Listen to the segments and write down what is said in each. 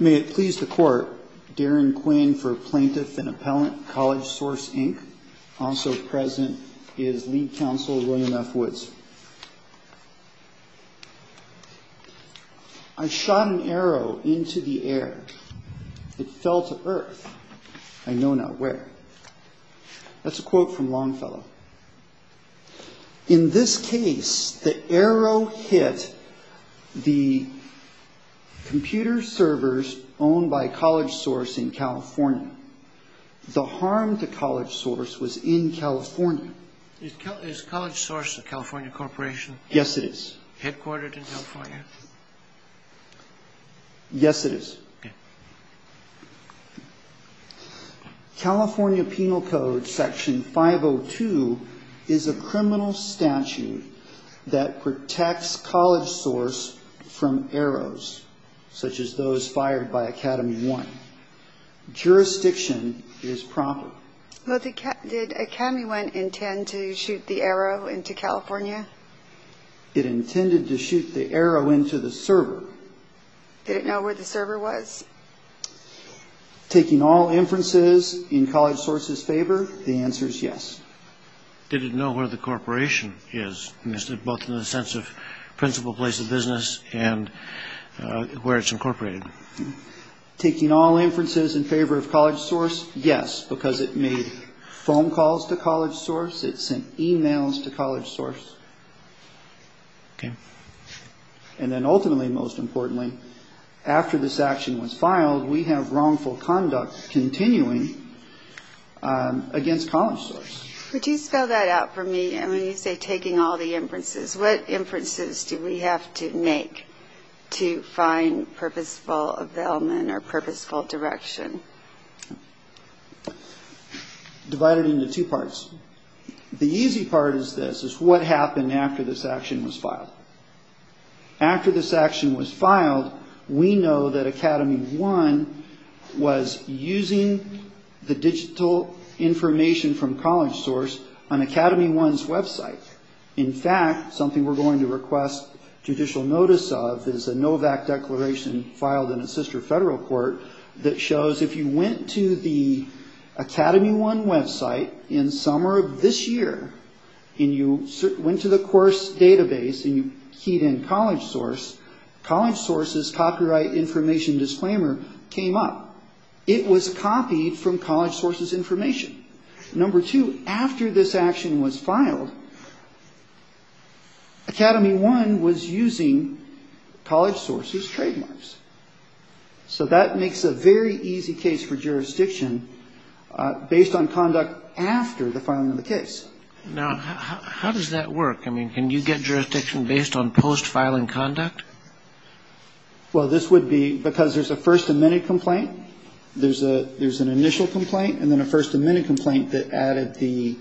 May it please the Court, Darren Quinn for Plaintiff and Appellant, CollegeSource, Inc. Also present is Lead Counsel, William F. Woods. I shot an arrow into the air. It fell to earth. I know not where. That's a quote from Longfellow. In this case, the arrow hit the computer servers owned by CollegeSource in California. The harm to CollegeSource was in California. Is CollegeSource a California corporation? Yes, it is. Headquartered in California? Yes, it is. Okay. California Penal Code Section 502 is a criminal statute that protects CollegeSource from arrows, such as those fired by AcademyOne. Jurisdiction is proper. Did AcademyOne intend to shoot the arrow into California? Did it know where the server was? Taking all inferences in CollegeSource's favor, the answer is yes. Did it know where the corporation is, both in the sense of principal place of business and where it's incorporated? Taking all inferences in favor of CollegeSource, yes, because it made phone calls to CollegeSource. It sent e-mails to CollegeSource. Okay. And then ultimately, most importantly, after this action was filed, we have wrongful conduct continuing against CollegeSource. Would you spell that out for me? When you say taking all the inferences, what inferences do we have to make to find purposeful availment or purposeful direction? Divide it into two parts. The easy part is this, is what happened after this action was filed. After this action was filed, we know that AcademyOne was using the digital information from CollegeSource on AcademyOne's website. In fact, something we're going to request judicial notice of is a NOVAC declaration filed in a sister federal court that shows if you went to the AcademyOne website in summer of this year and you went to the course database and you keyed in CollegeSource, CollegeSource's copyright information disclaimer came up. It was copied from CollegeSource's information. Number two, after this action was filed, AcademyOne was using CollegeSource's trademarks. So that makes a very easy case for jurisdiction based on conduct after the filing of the case. Now, how does that work? I mean, can you get jurisdiction based on post-filing conduct? Well, this would be because there's a first amendment complaint, there's an initial complaint, and then a first amendment complaint that added the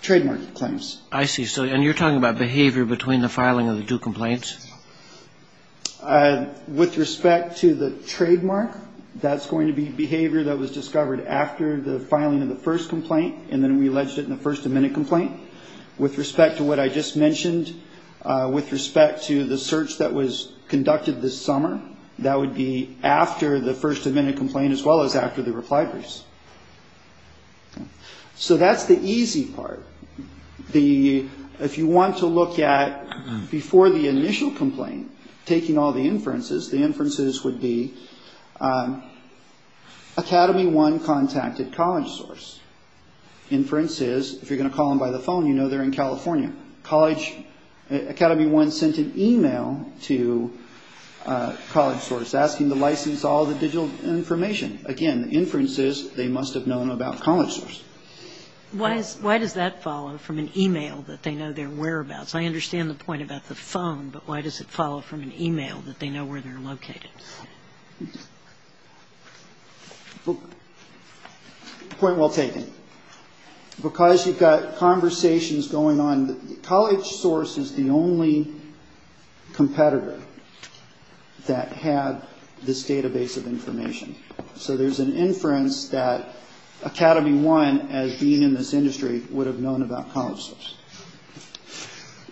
trademark claims. I see. And you're talking about behavior between the filing of the two complaints? With respect to the trademark, that's going to be behavior that was discovered after the filing of the first complaint and then we alleged it in the first amendment complaint. With respect to what I just mentioned, with respect to the search that was conducted this summer, that would be after the first amendment complaint as well as after the reply briefs. So that's the easy part. If you want to look at before the initial complaint, taking all the inferences, the inferences would be AcademyOne contacted CollegeSource. Inferences, if you're going to call them by the phone, you know they're in California. AcademyOne sent an email to CollegeSource asking to license all the digital information. Again, the inference is they must have known about CollegeSource. Why does that follow from an email that they know they're aware about? So I understand the point about the phone, but why does it follow from an email that they know where they're located? Point well taken. Because you've got conversations going on. CollegeSource is the only competitor that had this database of information. So there's an inference that AcademyOne, as being in this industry, would have known about CollegeSource.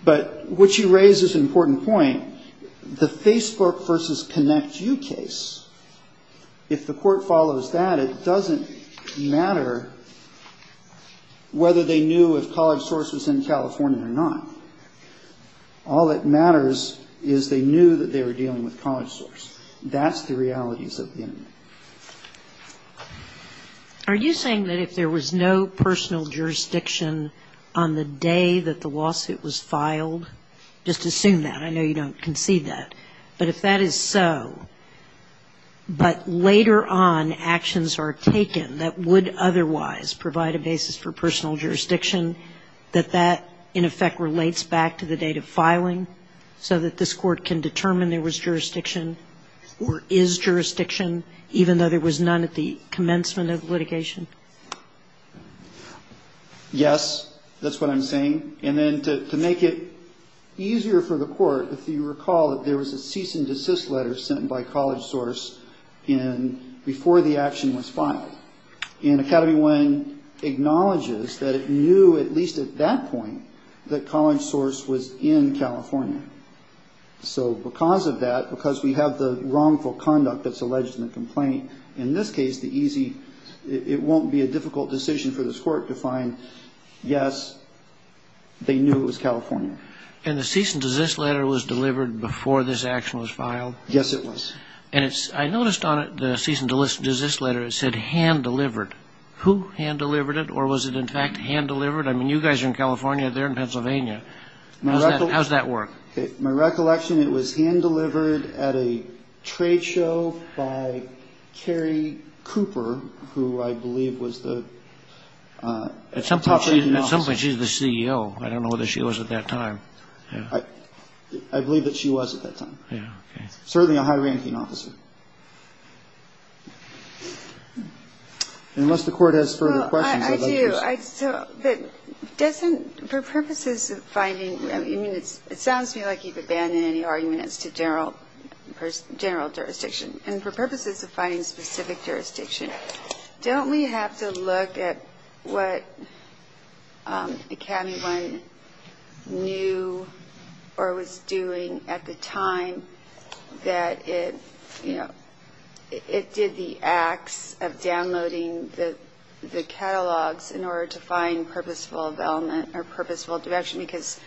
But what you raise is an important point. The Facebook versus ConnectU case, if the court follows that, it doesn't matter whether they knew if CollegeSource was in California or not. All that matters is they knew that they were dealing with CollegeSource. That's the realities of the internet. Are you saying that if there was no personal jurisdiction on the day that the lawsuit was filed, just assume that? I know you don't concede that. But if that is so, but later on actions are taken that would otherwise provide a basis for personal jurisdiction, that that in effect relates back to the date of filing so that this court can determine there was jurisdiction or is jurisdiction, even though there was none at the commencement of litigation? Yes, that's what I'm saying. And then to make it easier for the court, if you recall, there was a cease and desist letter sent by CollegeSource before the action was filed. And AcademyOne acknowledges that it knew at least at that point that CollegeSource was in California. So because of that, because we have the wrongful conduct that's alleged in the complaint, in this case it won't be a difficult decision for this court to find, yes, they knew it was California. And the cease and desist letter was delivered before this action was filed? Yes, it was. And I noticed on it, the cease and desist letter, it said hand-delivered. Who hand-delivered it, or was it in fact hand-delivered? I mean, you guys are in California, they're in Pennsylvania. How does that work? My recollection, it was hand-delivered at a trade show by Carrie Cooper, who I believe was the... At some point she's the CEO. I don't know whether she was at that time. I believe that she was at that time. Certainly a high-ranking officer. And unless the court has further questions, I'd love to hear some. I do. But for purposes of finding, I mean, it sounds to me like you've abandoned any argument as to general jurisdiction. And for purposes of finding specific jurisdiction, don't we have to look at what Academy One knew or was doing at the time that it did the acts of downloading the catalogs in order to find purposeful development or purposeful direction? Because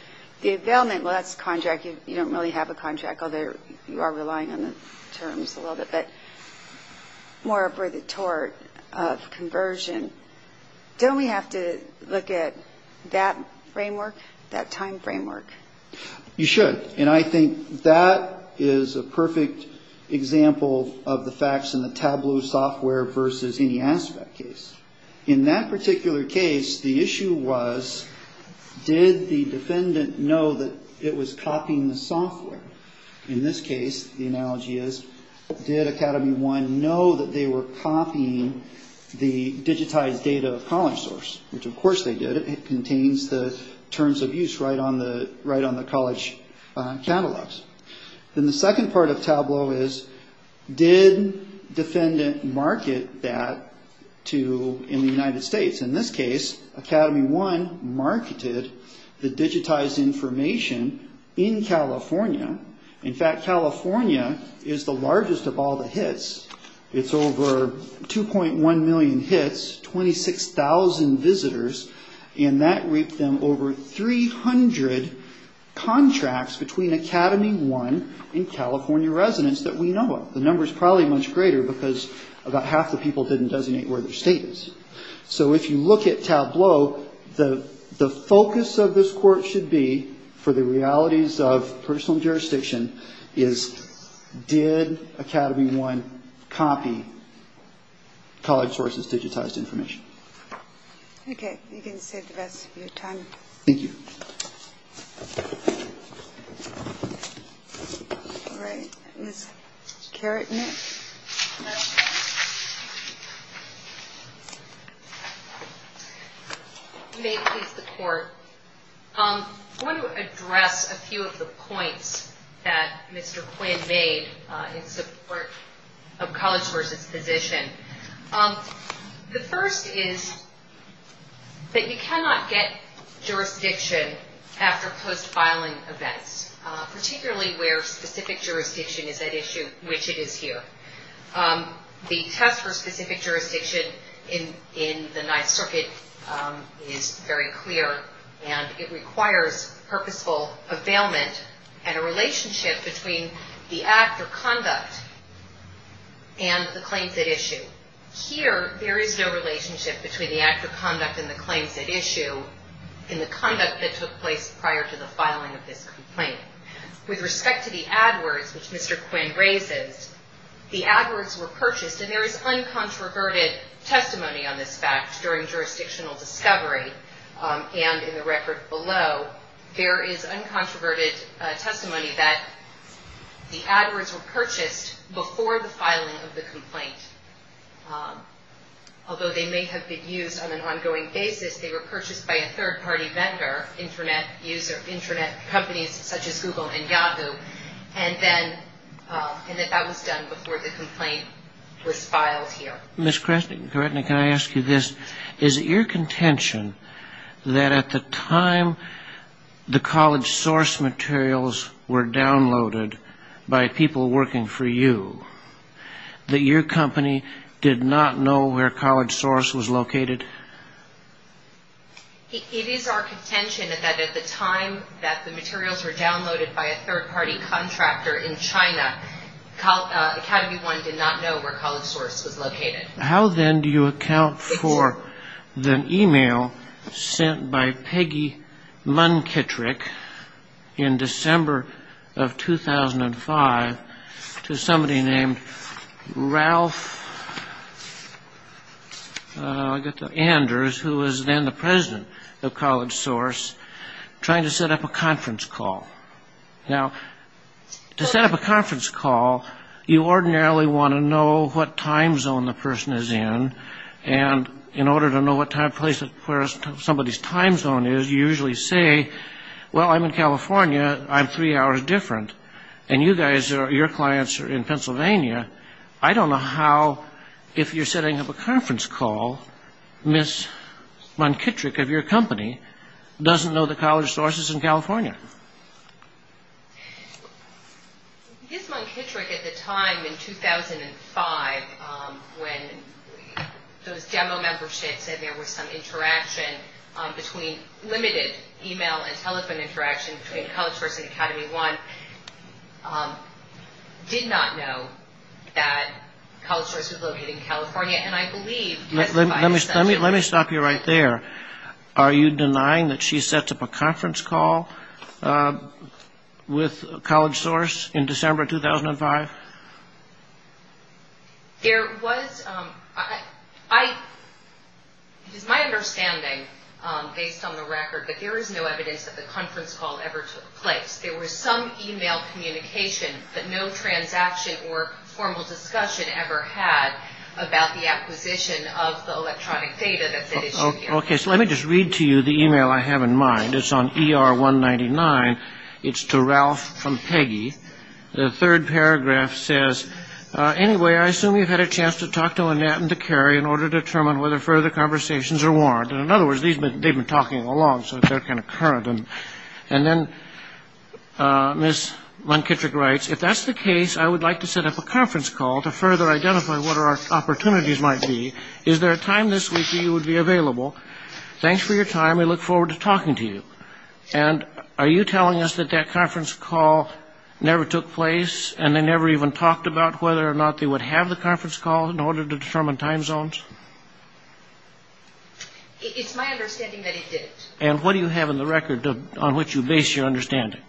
the development, well, that's a contract. You don't really have a contract, although you are relying on the terms a little bit. More for the tort of conversion. Don't we have to look at that framework, that time framework? You should. And I think that is a perfect example of the facts in the Tableau software versus any aspect case. In that particular case, the issue was, did the defendant know that it was copying the software? In this case, the analogy is, did Academy One know that they were copying the digitized data of CollegeSource? Which, of course, they did. It contains the terms of use right on the college catalogs. Then the second part of Tableau is, did defendant market that in the United States? In this case, Academy One marketed the digitized information in California. In fact, California is the largest of all the hits. It's over 2.1 million hits, 26,000 visitors, and that reaped them over 300 contracts between Academy One and California residents that we know of. The number is probably much greater because about half the people didn't designate where their state is. So if you look at Tableau, the focus of this court should be, for the realities of personal jurisdiction, is did Academy One copy CollegeSource's digitized information? Okay. You can save the rest of your time. Thank you. All right. Ms. Carrotnick. May it please the Court. I want to address a few of the points that Mr. Quinn made in support of CollegeSource's position. The first is that you cannot get jurisdiction after post-filing events, particularly where specific jurisdiction is at issue, which it is here. The test for specific jurisdiction in the Ninth Circuit is very clear, and it requires purposeful availment and a relationship between the act or conduct and the claims at issue. Here, there is no relationship between the act of conduct and the claims at issue in the conduct that took place prior to the filing of this complaint. With respect to the AdWords, which Mr. Quinn raises, the AdWords were purchased, and there is uncontroverted testimony on this fact during jurisdictional discovery, and in the record below, there is uncontroverted testimony that the AdWords were purchased before the filing of the complaint. Although they may have been used on an ongoing basis, they were purchased by a third-party vendor, Internet companies such as Google and Yahoo, and that was done before the complaint was filed here. Ms. Kretnik, can I ask you this? Is it your contention that at the time the CollegeSource materials were downloaded by people working for you, that your company did not know where CollegeSource was located? It is our contention that at the time that the materials were downloaded by a third-party contractor in China, Academy One did not know where CollegeSource was located. How, then, do you account for the email sent by Peggy Munkitrick in December of 2005 to somebody named Ralph... I got to Anders, who was then the president of CollegeSource, trying to set up a conference call. Now, to set up a conference call, you ordinarily want to know what time zone the person is in, and in order to know what place somebody's time zone is, you usually say, well, I'm in California, I'm three hours different, and you guys, your clients are in Pennsylvania. I don't know how, if you're setting up a conference call, Ms. Munkitrick of your company doesn't know the CollegeSource is in California. Ms. Munkitrick, at the time, in 2005, when those demo members said there was some interaction between limited email and telephone interaction between CollegeSource and Academy One, did not know that CollegeSource was located in California, and I believe... Let me stop you right there. Are you denying that she sets up a conference call with CollegeSource in December 2005? There was... It is my understanding, based on the record, that there is no evidence that the conference call ever took place. There was no email communication, but no transaction or formal discussion ever had about the acquisition of the electronic data that's at issue here. Okay, so let me just read to you the email I have in mind. It's on ER 199. It's to Ralph from Peggy. The third paragraph says, Anyway, I assume you've had a chance to talk to Annette and to Carrie in order to determine whether further conversations are warranted. In other words, they've been talking along, so they're kind of current. And then Ms. Munkitrick writes, Thanks for your time. We look forward to talking to you. And are you telling us that that conference call never took place and they never even talked about whether or not they would have the conference call in order to determine time zones? It's my understanding that it didn't. And what do you have in the record on which you base your understanding?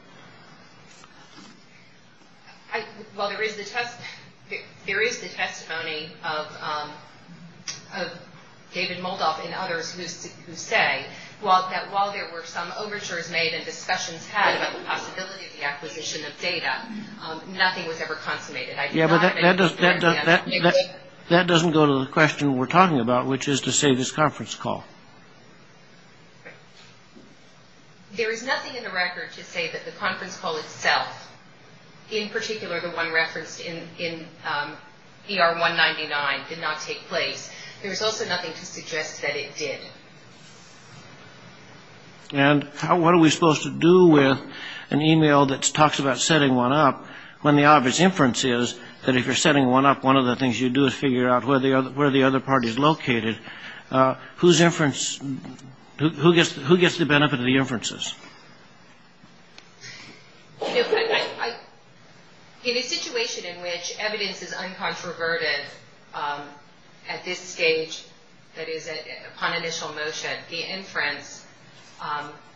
Well, there is the testimony of David Moldoff and others who say, that while there were some overtures made and discussions had about the possibility of the acquisition of data, nothing was ever consummated. That doesn't go to the question we're talking about, which is to say this conference call. There is nothing in the record to say that the conference call itself, in particular the one referenced in ER 199, did not take place. There's also nothing to suggest that it did. And what are we supposed to do with an email that talks about setting one up, when the obvious inference is that if you're setting one up, one of the things you do is figure out where the other party is located. Who gets the benefit of the inferences? In a situation in which evidence is uncontroverted at this stage, that is upon initial motion, the inference,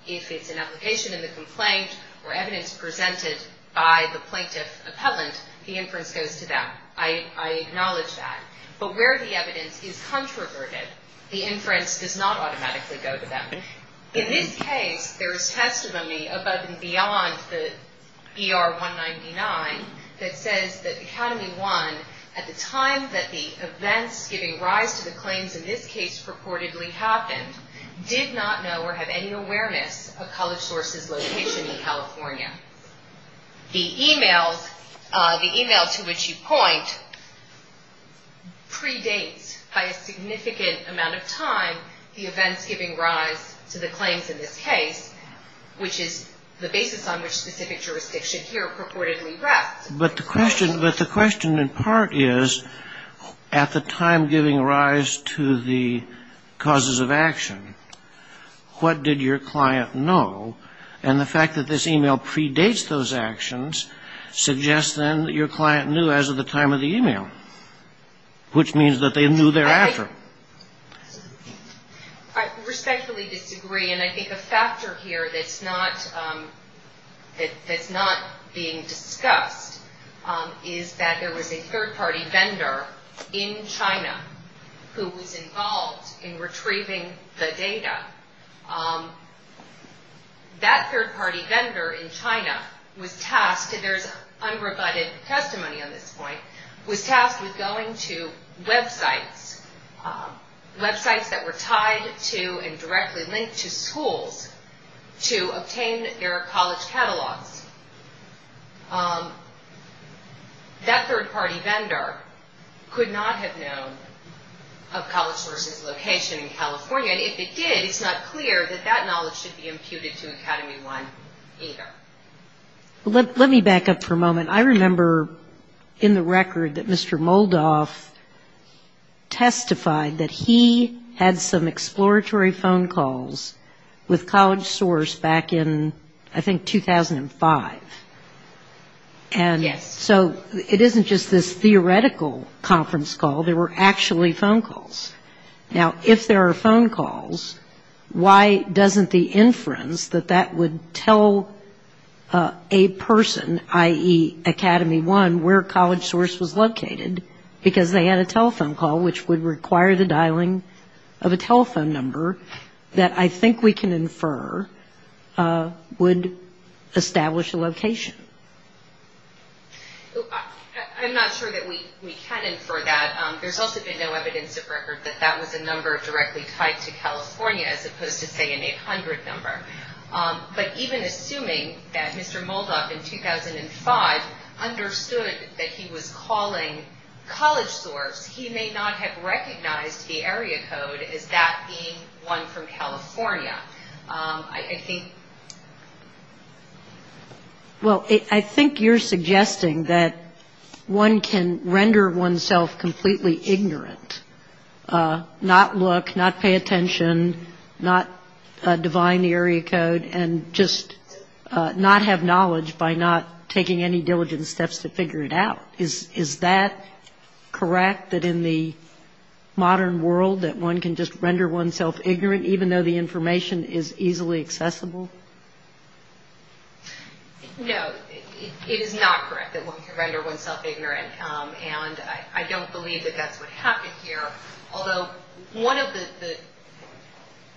if it's an application in the complaint or evidence presented by the plaintiff appellant, the inference goes to them. I acknowledge that. But where the evidence is controverted, the inference does not automatically go to them. In this case, there is testimony above and beyond the ER 199 that says that Academy 1, at the time that the events giving rise to the claims in this case purportedly happened, did not know or have any awareness of College Source's location in California. The email to which you point, predates by a significant amount of time the events giving rise to the claims in this case, which is the basis on which specific jurisdiction here purportedly rests. But the question in part is, at the time giving rise to the causes of action, what did your client know? And the fact that this email predates those actions suggests, then, that your client knew as of the time of the email, which means that they knew thereafter. I respectfully disagree, and I think a factor here that's not being discussed is that there was a third-party vendor in China who was involved in retrieving the data. That third-party vendor in China was tasked, there's unrebutted testimony on this point, was tasked with going to websites, websites that were tied to and directly linked to schools to obtain their college catalogs. That third-party vendor could not have known of College Source's location in California, and if it did, it's not clear that that knowledge should be imputed to Academy 1 either. Let me back up for a moment. I remember in the record that Mr. Moldoff testified that he had some exploratory phone calls with College Source back in, I think, 2005. Yes. So it isn't just this theoretical conference call. There were actually phone calls. Now, if there are phone calls, why doesn't the inference that that would tell a person, i.e., Academy 1, where College Source was located, because they had a telephone call, which would require the dialing of a telephone number that I think we can infer, would establish a location? I'm not sure that we can infer that. There's also been no evidence of record that that was a number directly tied to California, as opposed to, say, an 800 number. But even assuming that Mr. Moldoff in 2005 understood that he was calling College Source, he may not have recognized the area code as that being one from California. Well, I think you're suggesting that one can render oneself completely ignorant, not look, not pay attention, not divine the area code, and just not have knowledge by not taking any diligent steps to figure it out. Is that correct, that in the modern world, that one can just render oneself ignorant, even though the information is easily accessible? No, it is not correct that one can render oneself ignorant, and I don't believe that that's what happened here, although one of the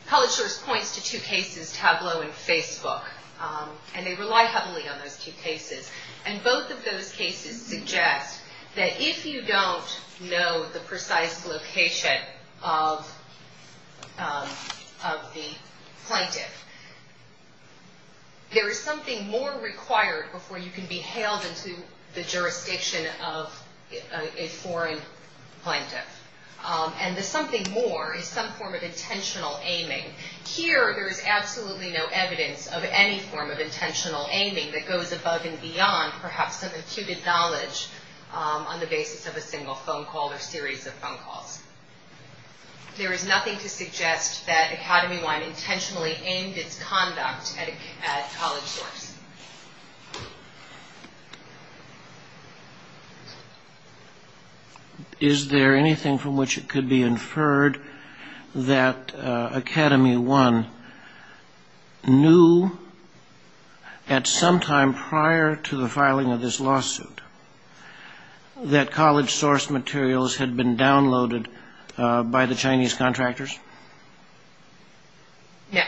College Source points to two cases, Tableau and Facebook, and they rely heavily on those two cases. And both of those cases suggest that if you don't know the precise location of the plaintiff, there is something more required before you can be hailed into the jurisdiction of a foreign plaintiff. And the something more is some form of intentional aiming. Here, there is absolutely no evidence of any form of intentional aiming that goes above and beyond perhaps some imputed knowledge on the basis of a single phone call or series of phone calls. There is nothing to suggest that Academy Wine intentionally aimed its conduct at College Source. Yes. Is there anything from which it could be inferred that Academy Wine knew at some time prior to the filing of this lawsuit that College Source materials had been downloaded by the Chinese contractors? No.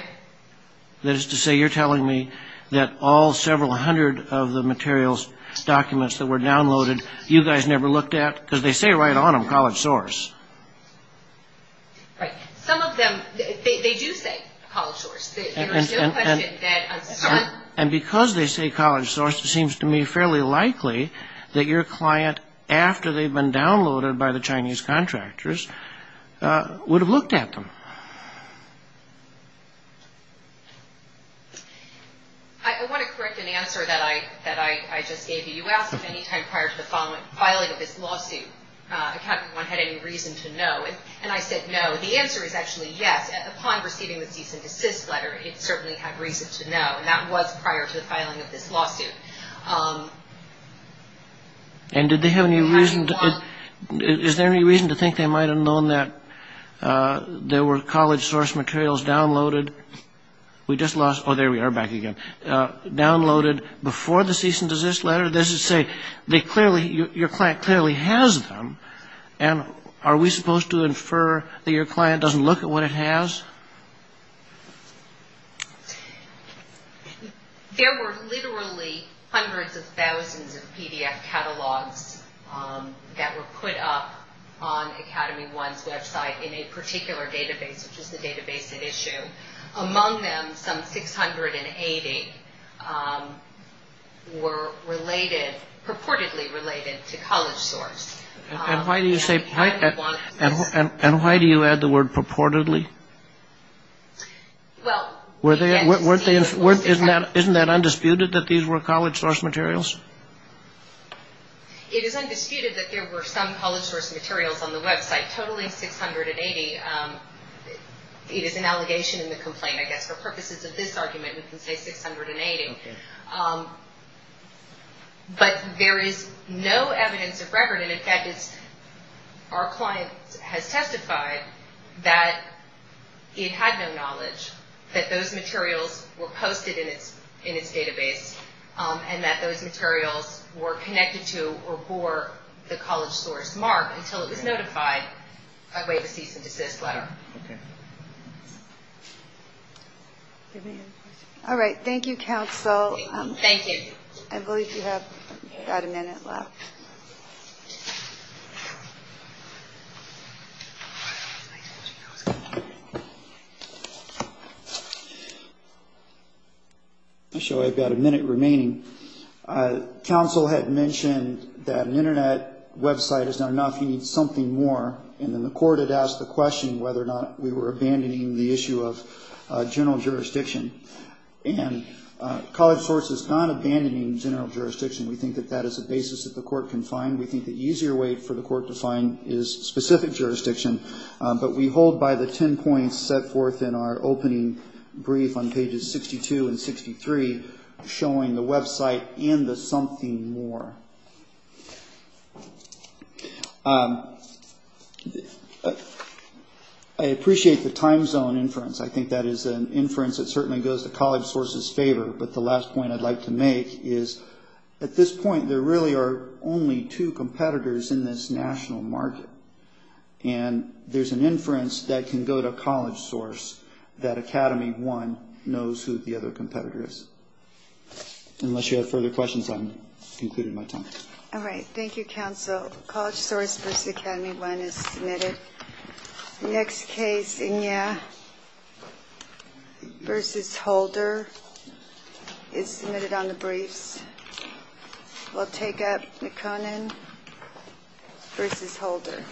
That is to say, you're telling me that all several hundred of the materials, documents that were downloaded, you guys never looked at? Because they say right on them, College Source. Right. Some of them, they do say College Source. And because they say College Source, it seems to me fairly likely that your client, after they've been downloaded by the Chinese contractors, would have looked at them. I want to correct an answer that I just gave you. You asked if any time prior to the filing of this lawsuit, Academy Wine had any reason to know. And I said no. The answer is actually yes. Upon receiving the cease and desist letter, it certainly had reason to know. And that was prior to the filing of this lawsuit. And did they have any reason? Is there any reason to think they might have known that there were College Source materials downloaded? We just lost. Oh, there we are back again. Downloaded before the cease and desist letter. Does it say they clearly your client clearly has them? And are we supposed to infer that your client doesn't look at what it has? There were literally hundreds of thousands of PDF catalogs that were put up on Academy One's website in a particular database, which is the database at issue. Among them, some 680 were related purportedly related to College Source. And why do you say and why do you add the word purportedly? Well, were they weren't they weren't isn't that isn't that undisputed that these were College Source materials? It is undisputed that there were some College Source materials on the website, totally 680. It is an allegation in the complaint, I guess, for purposes of this argument, we can say 680. But there is no evidence of record. And in fact, it's our client has testified that the it had no knowledge that those materials were posted in its in its database and that those materials were connected to or for the College Source mark until it was notified by way of a cease and desist letter. All right. Thank you, counsel. Thank you. I believe you have got a minute left. I show I've got a minute remaining. Counsel had mentioned that an Internet website is not enough. You need something more. And then the court had asked the question whether or not we were abandoning the issue of general jurisdiction. And College Source is not abandoning general jurisdiction. We think that that is a basis that the court can find. We think the easier way for the court to find is specific jurisdiction. But we hold by the 10 points set forth in our opening brief on pages 62 and 63, showing the Web site in the something more. I appreciate the time zone inference. I think that is an inference that certainly goes to College Source's favor. But the last point I'd like to make is at this point, there really are only two competitors in this national market. And there's an inference that can go to College Source that Academy One knows who the other competitor is. Unless you have further questions, I'm concluding my time. All right. Thank you, counsel. College Source versus Academy One is submitted. Next case, Enya versus Holder is submitted on the briefs. We'll take up the Conan versus Holder.